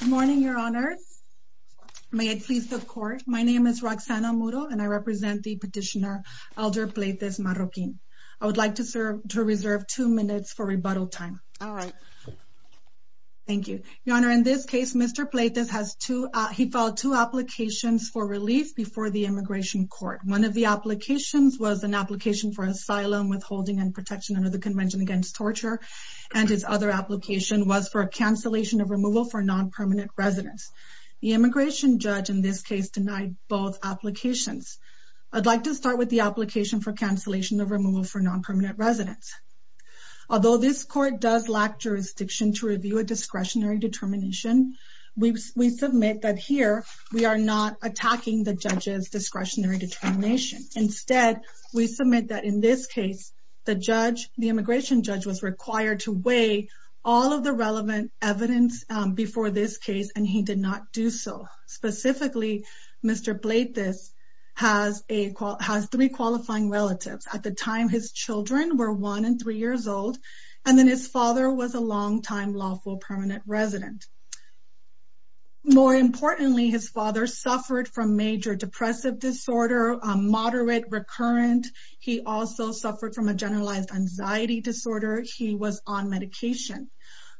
Good morning, Your Honor. May it please the Court. My name is Roxana Muro and I represent the petitioner, Elder Pleitez Marroquin. I would like to reserve two minutes for rebuttal time. Alright. Thank you. Your Honor, in this case, Mr. Pleitez has two, he filed two applications for relief before the Immigration Court. One of the applications was an application for asylum, withholding, and protection under the Convention Against Torture. And his other application was for a cancellation of removal for non-permanent residents. The immigration judge in this case denied both applications. I'd like to start with the application for cancellation of removal for non-permanent residents. Although this court does lack jurisdiction to review a discretionary determination, we submit that here we are not attacking the judge's discretionary determination. Instead, we submit that in this case, the judge, the immigration judge, was required to weigh all of the relevant evidence before this case and he did not do so. Specifically, Mr. Pleitez has three qualifying relatives. At the time, his children were one and three years old and then his father was a long-time lawful permanent resident. More importantly, his father suffered from major depressive disorder, moderate, recurrent. He also suffered from a generalized anxiety disorder. He was on medication.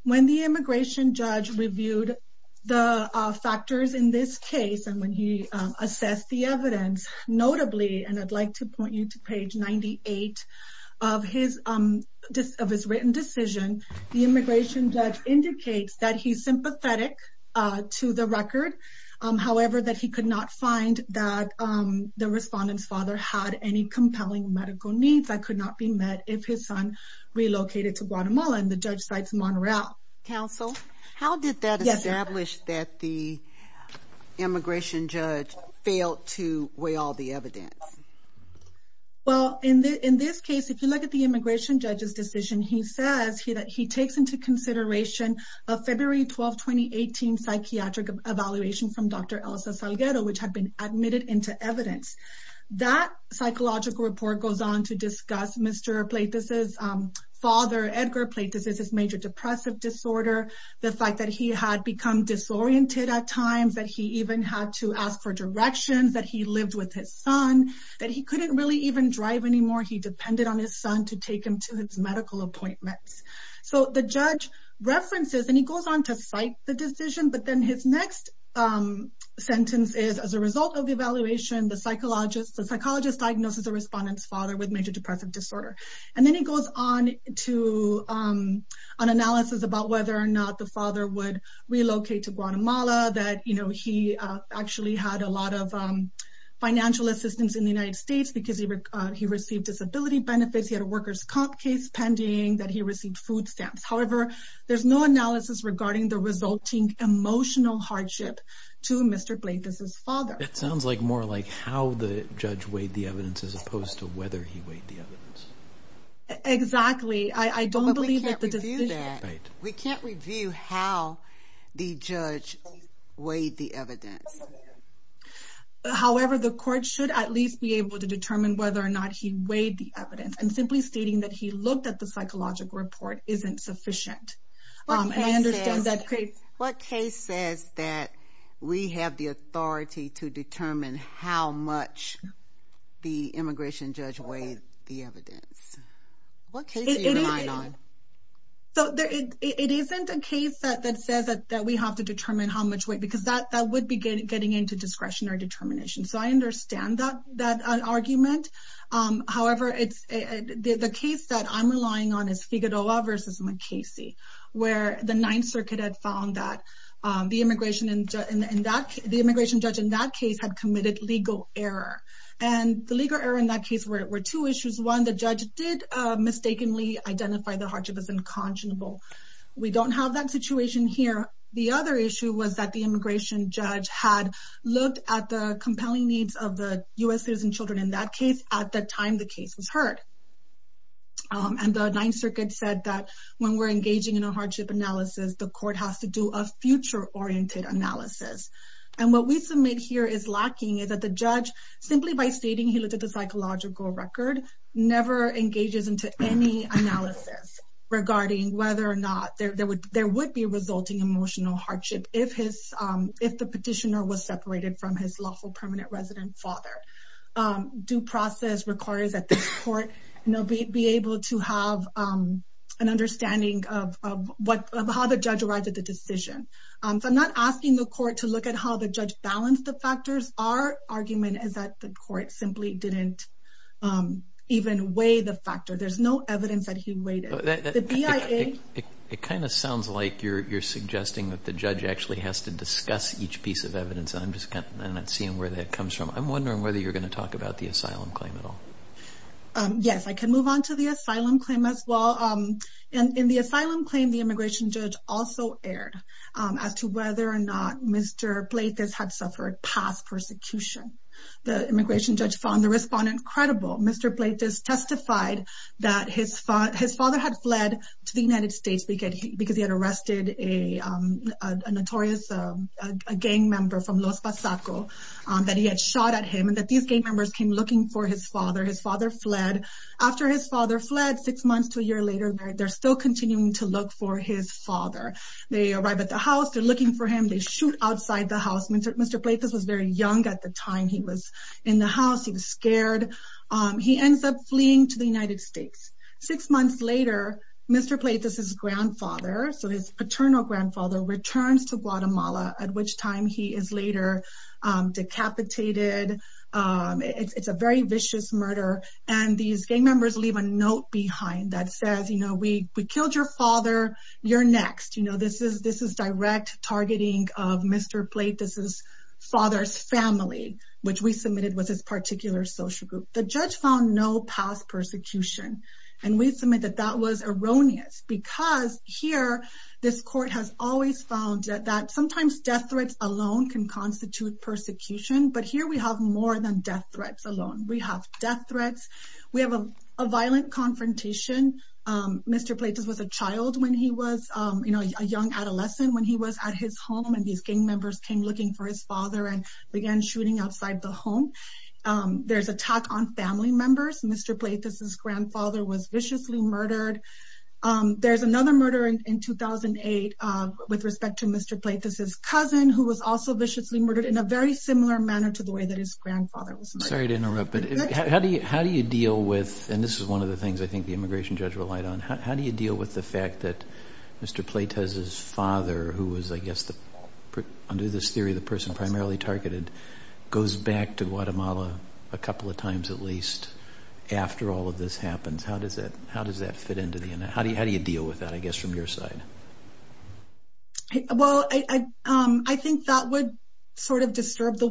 When the immigration judge reviewed the factors in this case and when he assessed the evidence, notably, and I'd like to point you to page 98 of his written decision, the immigration judge indicates that he's sympathetic to the record, however, that he could not find that the respondent's father had any compelling medical needs that could not be met if his son relocated to Guatemala and the judge cites Montreal. Counsel, how did that establish that the immigration judge failed to weigh all the evidence? Well, in this case, if you look at the immigration judge's decision, he says that he takes into consideration a February 12, 2018, psychiatric evaluation from Dr. Elsa Salguero, which had been admitted into evidence. That psychological report goes on to discuss Mr. Pleitas' father, Edgar Pleitas' major depressive disorder, the fact that he had become disoriented at times, that he even had to ask for directions, that he lived with his son, that he couldn't really even drive anymore. He depended on his son to take him to his medical appointments. So the judge references, and he goes on to cite the decision, but then his next sentence is, as a result of the evaluation, the psychologist diagnoses the respondent's father with major depressive disorder. And then he goes on to an analysis about whether or not the father would relocate to Guatemala, that he actually had a lot of financial assistance in the United States because he received disability benefits, he had a workers' comp case pending, that he received food stamps. However, there's no analysis regarding the resulting emotional hardship to Mr. Pleitas' father. It sounds more like how the judge weighed the evidence as opposed to whether he weighed the evidence. Exactly. I don't believe that the decision… But we can't review that. We can't review how the judge weighed the evidence. However, the court should at least be able to determine whether or not he weighed the evidence. And simply stating that he looked at the psychological report isn't sufficient. What case says that we have the authority to determine how much the immigration judge weighed the evidence? What case are you relying on? It isn't a case that says that we have to determine how much weight, because that would be getting into discretionary determination. So I understand that argument. However, the case that I'm relying on is Figueroa v. MacCasey, where the Ninth Circuit had found that the immigration judge in that case had committed legal error. And the legal error in that case were two issues. One, the judge did mistakenly identify the hardship as incongenable. We don't have that situation here. The other issue was that the immigration judge had looked at the compelling needs of the U.S. citizens and children in that case at the time the case was heard. And the Ninth Circuit said that when we're engaging in a hardship analysis, the court has to do a future-oriented analysis. And what we submit here is lacking is that the judge, simply by stating he looked at the psychological record, never engages into any analysis regarding whether or not there would be resulting emotional hardship if the petitioner was separated from his lawful permanent resident father. Due process requires that the court be able to have an understanding of how the judge arrived at the decision. So I'm not asking the court to look at how the judge balanced the factors. Our argument is that the court simply didn't even weigh the factor. There's no evidence that he weighed it. It kind of sounds like you're suggesting that the judge actually has to discuss each piece of evidence. I'm just not seeing where that comes from. I'm wondering whether you're going to talk about the asylum claim at all. Yes, I can move on to the asylum claim as well. In the asylum claim, the immigration judge also erred as to whether or not Mr. Plaitis had suffered past persecution. The immigration judge found the respondent credible. Mr. Plaitis testified that his father had fled to the United States because he had arrested a notorious gang member from Los Pasaco, that he had shot at him, and that these gang members came looking for his father. His father fled. After his father fled, six months to a year later, they're still continuing to look for his father. They arrive at the house. They're looking for him. They shoot outside the house. Mr. Plaitis was very young at the time. He was in the house. He was scared. He ends up fleeing to the United States. Six months later, Mr. Plaitis' grandfather, so his paternal grandfather, returns to Guatemala, at which time he is later decapitated. It's a very vicious murder. And these gang members leave a note behind that says, you know, we killed your father. You're next. You know, this is direct targeting of Mr. Plaitis' father's family, which we submitted was his particular social group. The judge found no past persecution. And we submit that that was erroneous because here this court has always found that sometimes death threats alone can constitute persecution. But here we have more than death threats alone. We have death threats. We have a violent confrontation. Mr. Plaitis was a child when he was, you know, a young adolescent when he was at his home. And these gang members came looking for his father and began shooting outside the home. There's attack on family members. Mr. Plaitis' grandfather was viciously murdered. There's another murder in 2008 with respect to Mr. Plaitis' cousin, who was also viciously murdered in a very similar manner to the way that his grandfather was murdered. Sorry to interrupt, but how do you deal with, and this is one of the things I think the immigration judge relied on, how do you deal with the fact that Mr. Plaitis' father, who was, I guess, under this theory the person primarily targeted, goes back to Guatemala a couple of times at least after all of this happens? How does that fit into the analysis? How do you deal with that, I guess, from your side? Well, I think that would sort of disturb the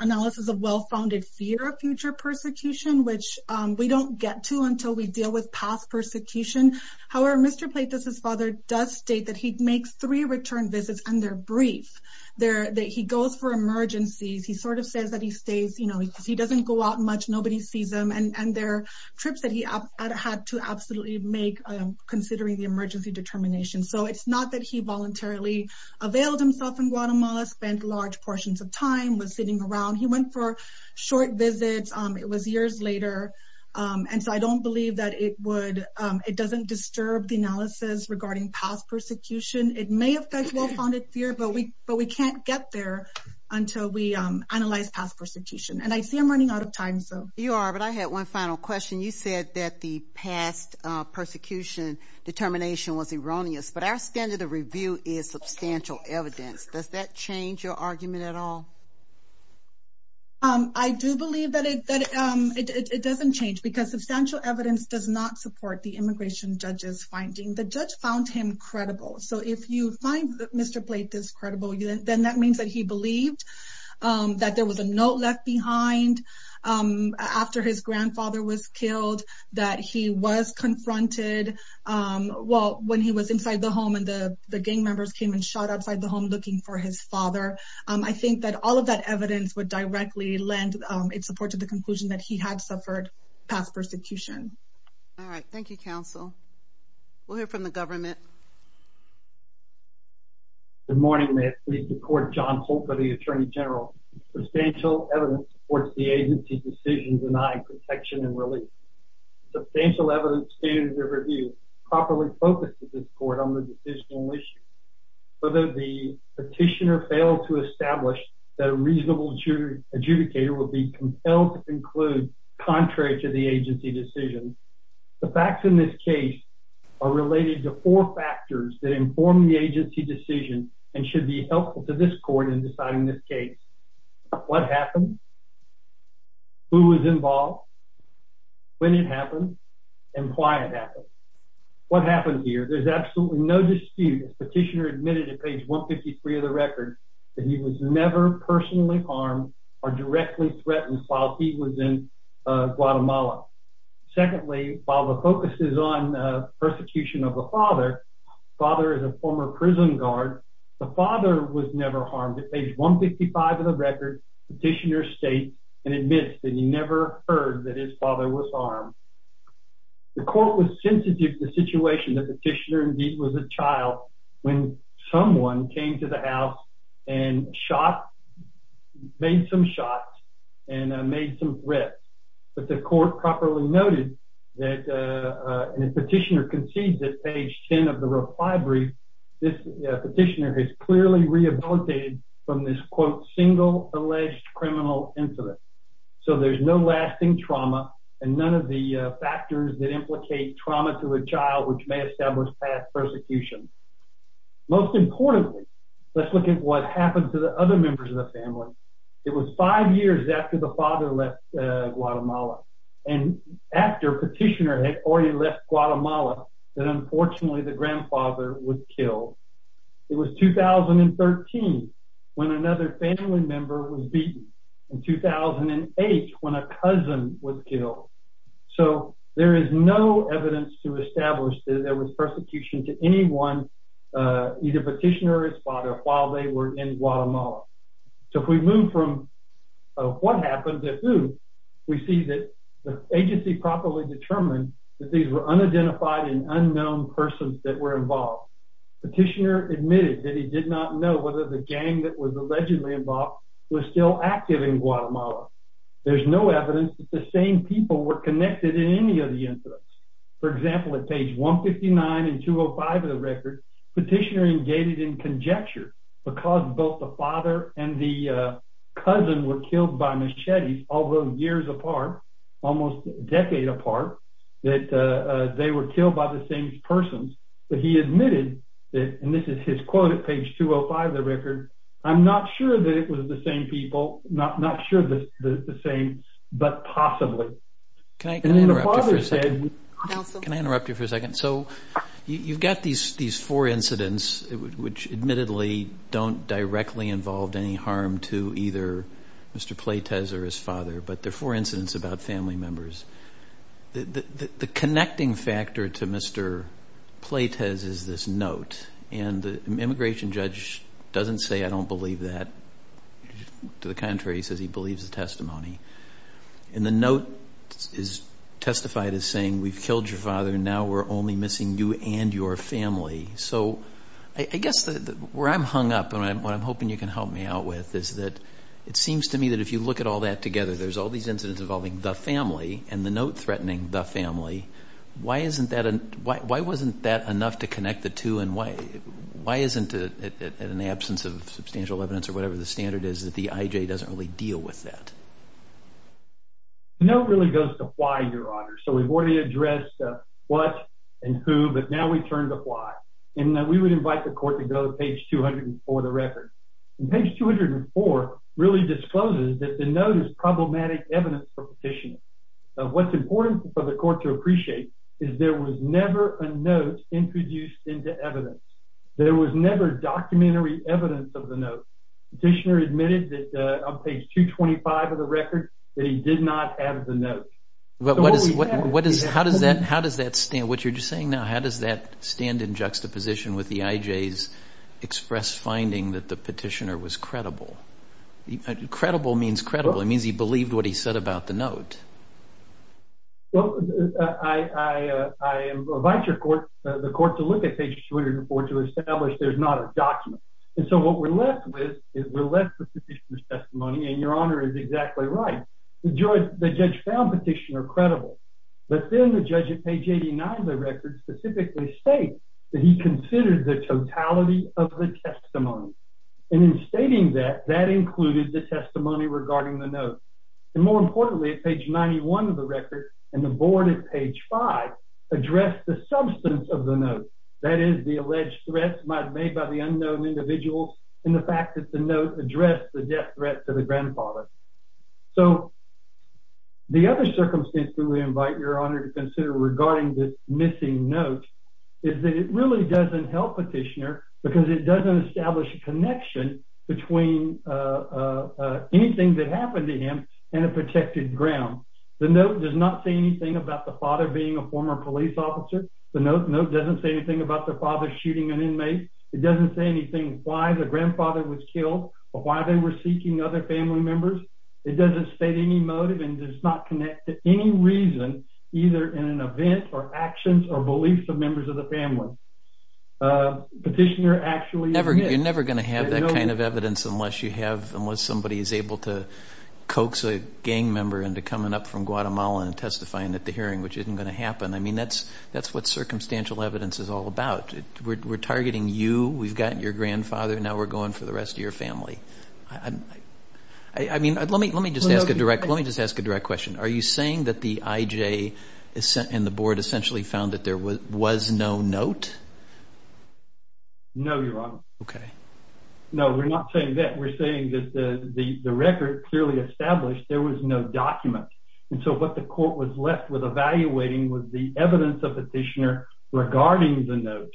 analysis of well-founded fear of future persecution, which we don't get to until we deal with past persecution. However, Mr. Plaitis' father does state that he makes three return visits, and they're brief. He goes for emergencies. He sort of says that he stays. He doesn't go out much. Nobody sees him. And they're trips that he had to absolutely make considering the emergency determination. So it's not that he voluntarily availed himself in Guatemala, spent large portions of time, was sitting around. He went for short visits. It was years later. And so I don't believe that it doesn't disturb the analysis regarding past persecution. It may affect well-founded fear, but we can't get there until we analyze past persecution. And I see I'm running out of time. You are, but I had one final question. You said that the past persecution determination was erroneous, but our standard of review is substantial evidence. Does that change your argument at all? I do believe that it doesn't change because substantial evidence does not support the immigration judge's finding. The judge found him credible. So if you find that Mr. Blake is credible, then that means that he believed that there was a note left behind after his grandfather was killed, that he was confronted when he was inside the home and the gang members came and shot outside the home looking for his father. I think that all of that evidence would directly lend its support to the conclusion that he had suffered past persecution. All right. Thank you, counsel. We'll hear from the government. Good morning, ma'am. Please support John Holt for the Attorney General. Substantial evidence supports the agency's decision denying protection and relief. Substantial evidence standard of review properly focuses the court on the decisional issue. Whether the petitioner failed to establish that a reasonable adjudicator would be compelled to conclude contrary to the agency decision, the facts in this case are related to four factors that inform the agency decision and should be helpful to this court in deciding this case. What happened? Who was involved? When it happened? And why it happened. What happened here? There's absolutely no dispute. The petitioner admitted at page 153 of the record that he was never personally harmed or directly threatened while he was in Guatemala. Secondly, while the focus is on the persecution of the father, the father is a former prison guard, the father was never harmed. At page 155 of the record, the petitioner states and admits that he never heard that his father was harmed. The court was sensitive to the situation. The petitioner, indeed, was a child when someone came to the house and shot, made some shots, and made some threats. But the court properly noted that, and the petitioner concedes at page 10 of the reply brief, this petitioner has clearly rehabilitated from this, quote, single alleged criminal incident. So there's no lasting trauma and none of the factors that implicate trauma to a child which may establish past persecution. Most importantly, let's look at what happened to the other members of the family. It was five years after the father left Guatemala and after petitioner had already left Guatemala that, unfortunately, the grandfather was killed. It was 2013 when another family member was beaten and 2008 when a cousin was killed. So there is no evidence to establish that there was persecution to anyone, either petitioner or his father, while they were in Guatemala. So if we move from what happened to who, we see that the agency properly determined that these were unidentified and unknown persons that were involved. Petitioner admitted that he did not know whether the gang that was allegedly involved was still active in Guatemala. There's no evidence that the same people were connected in any of the incidents. For example, at page 159 and 205 of the record, petitioner engaged in conjecture because both the father and the cousin were killed by machetes, although years apart, almost a decade apart, that they were killed by the same persons. But he admitted that, and this is his quote at page 205 of the record, I'm not sure that it was the same people, not sure that it's the same, but possibly. Can I interrupt you for a second? Can I interrupt you for a second? So you've got these four incidents, which admittedly don't directly involve any harm to either Mr. Pleitez or his father, but they're four incidents about family members. The connecting factor to Mr. Pleitez is this note, and the immigration judge doesn't say I don't believe that. To the contrary, he says he believes the testimony. And the note is testified as saying we've killed your father and now we're only missing you and your family. So I guess where I'm hung up and what I'm hoping you can help me out with is that it seems to me that if you look at all that together, there's all these incidents involving the family and the note threatening the family. Why wasn't that enough to connect the two and why isn't it, in the absence of substantial evidence or whatever the standard is, that the IJ doesn't really deal with that? The note really goes to why, Your Honor. So we've already addressed what and who, but now we turn to why. And we would invite the court to go to page 204 of the record. And page 204 really discloses that the note is problematic evidence for petitioning. What's important for the court to appreciate is there was never a note introduced into evidence. There was never documentary evidence of the note. Petitioner admitted that on page 225 of the record that he did not have the note. What you're saying now, how does that stand in juxtaposition with the IJ's express finding that the petitioner was credible? Credible means credible. It means he believed what he said about the note. Well, I invite the court to look at page 204 to establish there's not a document. And so what we're left with is we're left with the petitioner's testimony, and Your Honor is exactly right. The judge found petitioner credible. But then the judge at page 89 of the record specifically states that he considered the totality of the testimony. And in stating that, that included the testimony regarding the note. And more importantly, at page 91 of the record and the board at page 5, addressed the substance of the note, that is the alleged threats made by the unknown individuals and the fact that the note addressed the death threat to the grandfather. So the other circumstance that we invite Your Honor to consider regarding this missing note is that it really doesn't help petitioner because it doesn't establish a connection between anything that happened to him and a protected ground. The note does not say anything about the father being a former police officer. The note doesn't say anything about the father shooting an inmate. It doesn't say anything why the grandfather was killed or why they were seeking other family members. It doesn't state any motive and does not connect to any reason either in an event or actions or beliefs of members of the family. You're never going to have that kind of evidence unless somebody is able to coax a gang member into coming up from Guatemala and testifying at the hearing, which isn't going to happen. I mean, that's what circumstantial evidence is all about. We're targeting you. We've got your grandfather. Now we're going for the rest of your family. I mean, let me just ask a direct question. Are you saying that the IJ and the board essentially found that there was no note? No, Your Honor. Okay. No, we're not saying that. We're saying that the record clearly established there was no document. And so what the court was left with evaluating was the evidence of petitioner regarding the note.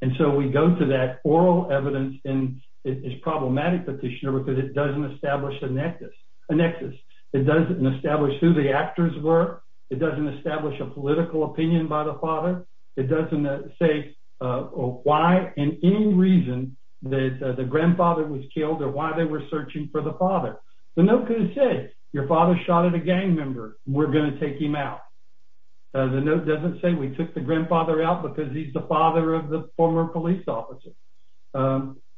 And so we go to that oral evidence and it's problematic petitioner because it doesn't establish a nexus. It doesn't establish who the actors were. It doesn't establish a political opinion by the father. It doesn't say why and any reason that the grandfather was killed or why they were searching for the father. The note could have said, your father shot at a gang member. We're going to take him out. The note doesn't say we took the grandfather out because he's the father of the former police officer.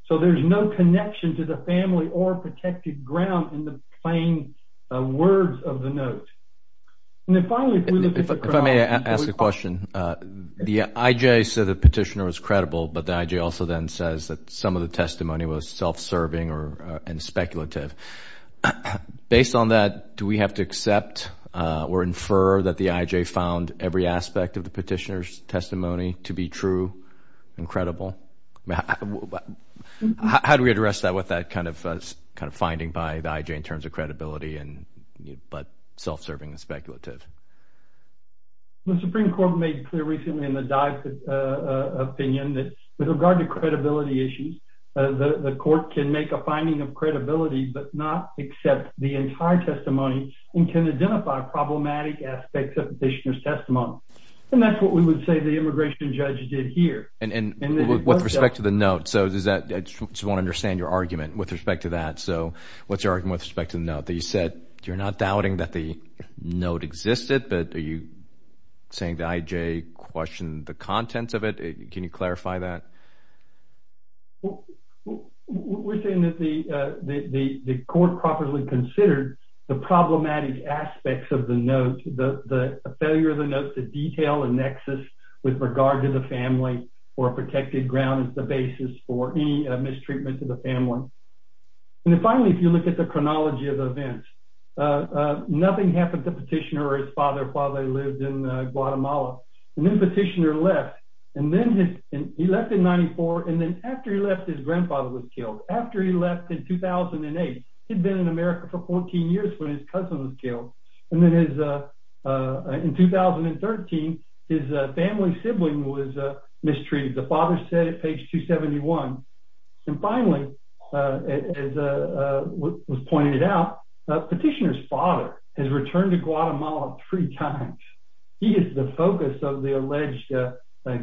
So there's no connection to the family or protected ground in the plain words of the note. And then finally, if we look at the crowd. If I may ask a question, the IJ said the petitioner was credible, but the IJ also then says that some of the testimony was self-serving and speculative. Based on that, do we have to accept or infer that the IJ found every aspect of the petitioner's testimony to be true and credible? How do we address that with that kind of finding by the IJ in terms of credibility but self-serving and speculative? The Supreme Court made it clear recently in the Dodd opinion that with regard to credibility issues, the court can make a finding of credibility but not accept the entire testimony and can identify problematic aspects of the petitioner's testimony. And that's what we would say the immigration judge did here. And with respect to the note, I just want to understand your argument with respect to that. So what's your argument with respect to the note? You said you're not doubting that the note existed, but are you saying the IJ questioned the contents of it? Can you clarify that? We're saying that the court properly considered the problematic aspects of the note, the failure of the note to detail a nexus with regard to the family or a protected ground as the basis for any mistreatment to the family. And then finally, if you look at the chronology of events, nothing happened to the petitioner or his father while they lived in Guatemala. And then the petitioner left. And then he left in 1994. And then after he left, his grandfather was killed. After he left in 2008, he'd been in America for 14 years when his cousin was killed. And then in 2013, his family sibling was mistreated. The father said it, page 271. And finally, as was pointed out, the petitioner's father has returned to Guatemala three times. He is the focus of the alleged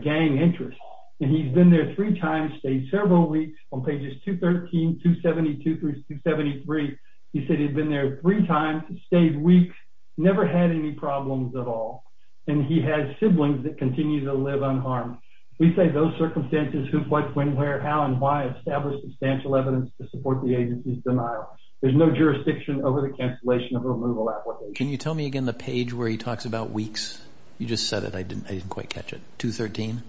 gang interest. And he's been there three times, stayed several weeks. On pages 213, 272 through 273, he said he'd been there three times, stayed weeks, never had any problems at all. And he has siblings that continue to live unharmed. We say those circumstances, who, what, when, where, how, and why establish substantial evidence to support the agency's denial. There's no jurisdiction over the cancellation of a removal application. Can you tell me again the page where he talks about weeks? You just said it. I didn't quite catch it. 213?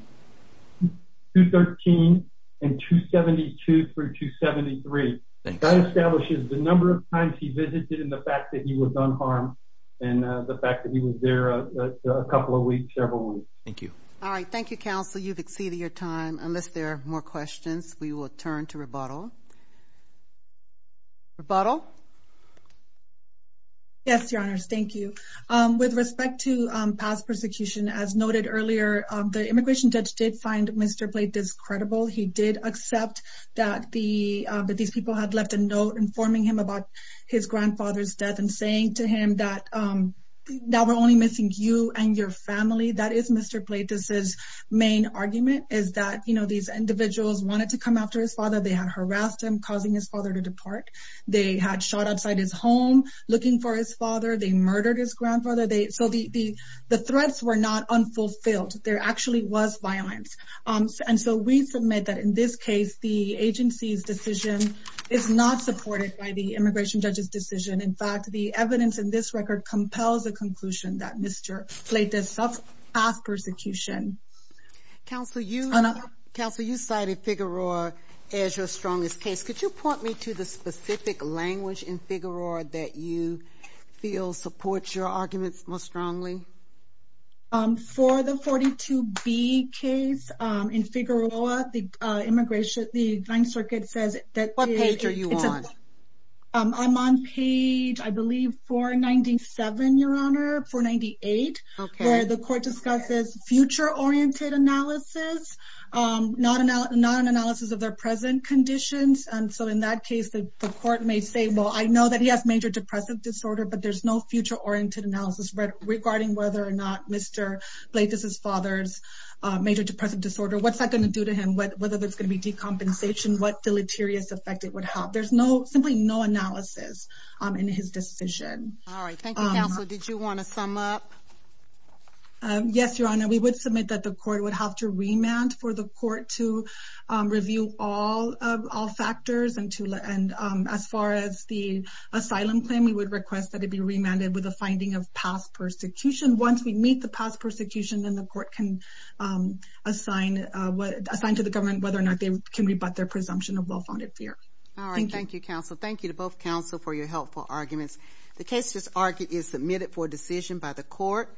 213 and 272 through 273. That establishes the number of times he visited and the fact that he was unharmed and the fact that he was there a couple of weeks, several weeks. Thank you. All right, thank you, Counsel. You've exceeded your time. Unless there are more questions, we will turn to rebuttal. Rebuttal? Yes, Your Honors, thank you. With respect to past persecution, as noted earlier, the immigration judge did find Mr. Bledis credible. He did accept that these people had left a note informing him about his grandfather's death and saying to him that now we're only missing you and your family. That is Mr. Bledis's main argument is that, you know, these individuals wanted to come after his father. They had harassed him, causing his father to depart. They had shot outside his home looking for his father. They murdered his grandfather. So the threats were not unfulfilled. There actually was violence. And so we submit that in this case the agency's decision is not supported by the immigration judge's decision. In fact, the evidence in this record compels a conclusion that Mr. Bledis suffered past persecution. Counsel, you cited Figueroa as your strongest case. Could you point me to the specific language in Figueroa that you feel supports your arguments most strongly? For the 42B case in Figueroa, the immigration, the Ninth Circuit says that the- What page are you on? I'm on page, I believe, 497, Your Honor, 498. Okay. Where the court discusses future-oriented analysis, not an analysis of their present conditions. And so in that case, the court may say, well, I know that he has major depressive disorder, but there's no future-oriented analysis regarding whether or not Mr. Bledis's father's major depressive disorder, what's that going to do to him, whether there's going to be decompensation, what deleterious effect it would have. There's simply no analysis in his decision. All right. Thank you, Counsel. Did you want to sum up? Yes, Your Honor. We would submit that the court would have to remand for the court to review all factors and as far as the asylum claim, we would request that it be remanded with a finding of past persecution. Once we meet the past persecution, then the court can assign to the government whether or not they can rebut their presumption of well-founded fear. All right. Thank you, Counsel. Thank you to both counsel for your helpful arguments. The case is submitted for decision by the court.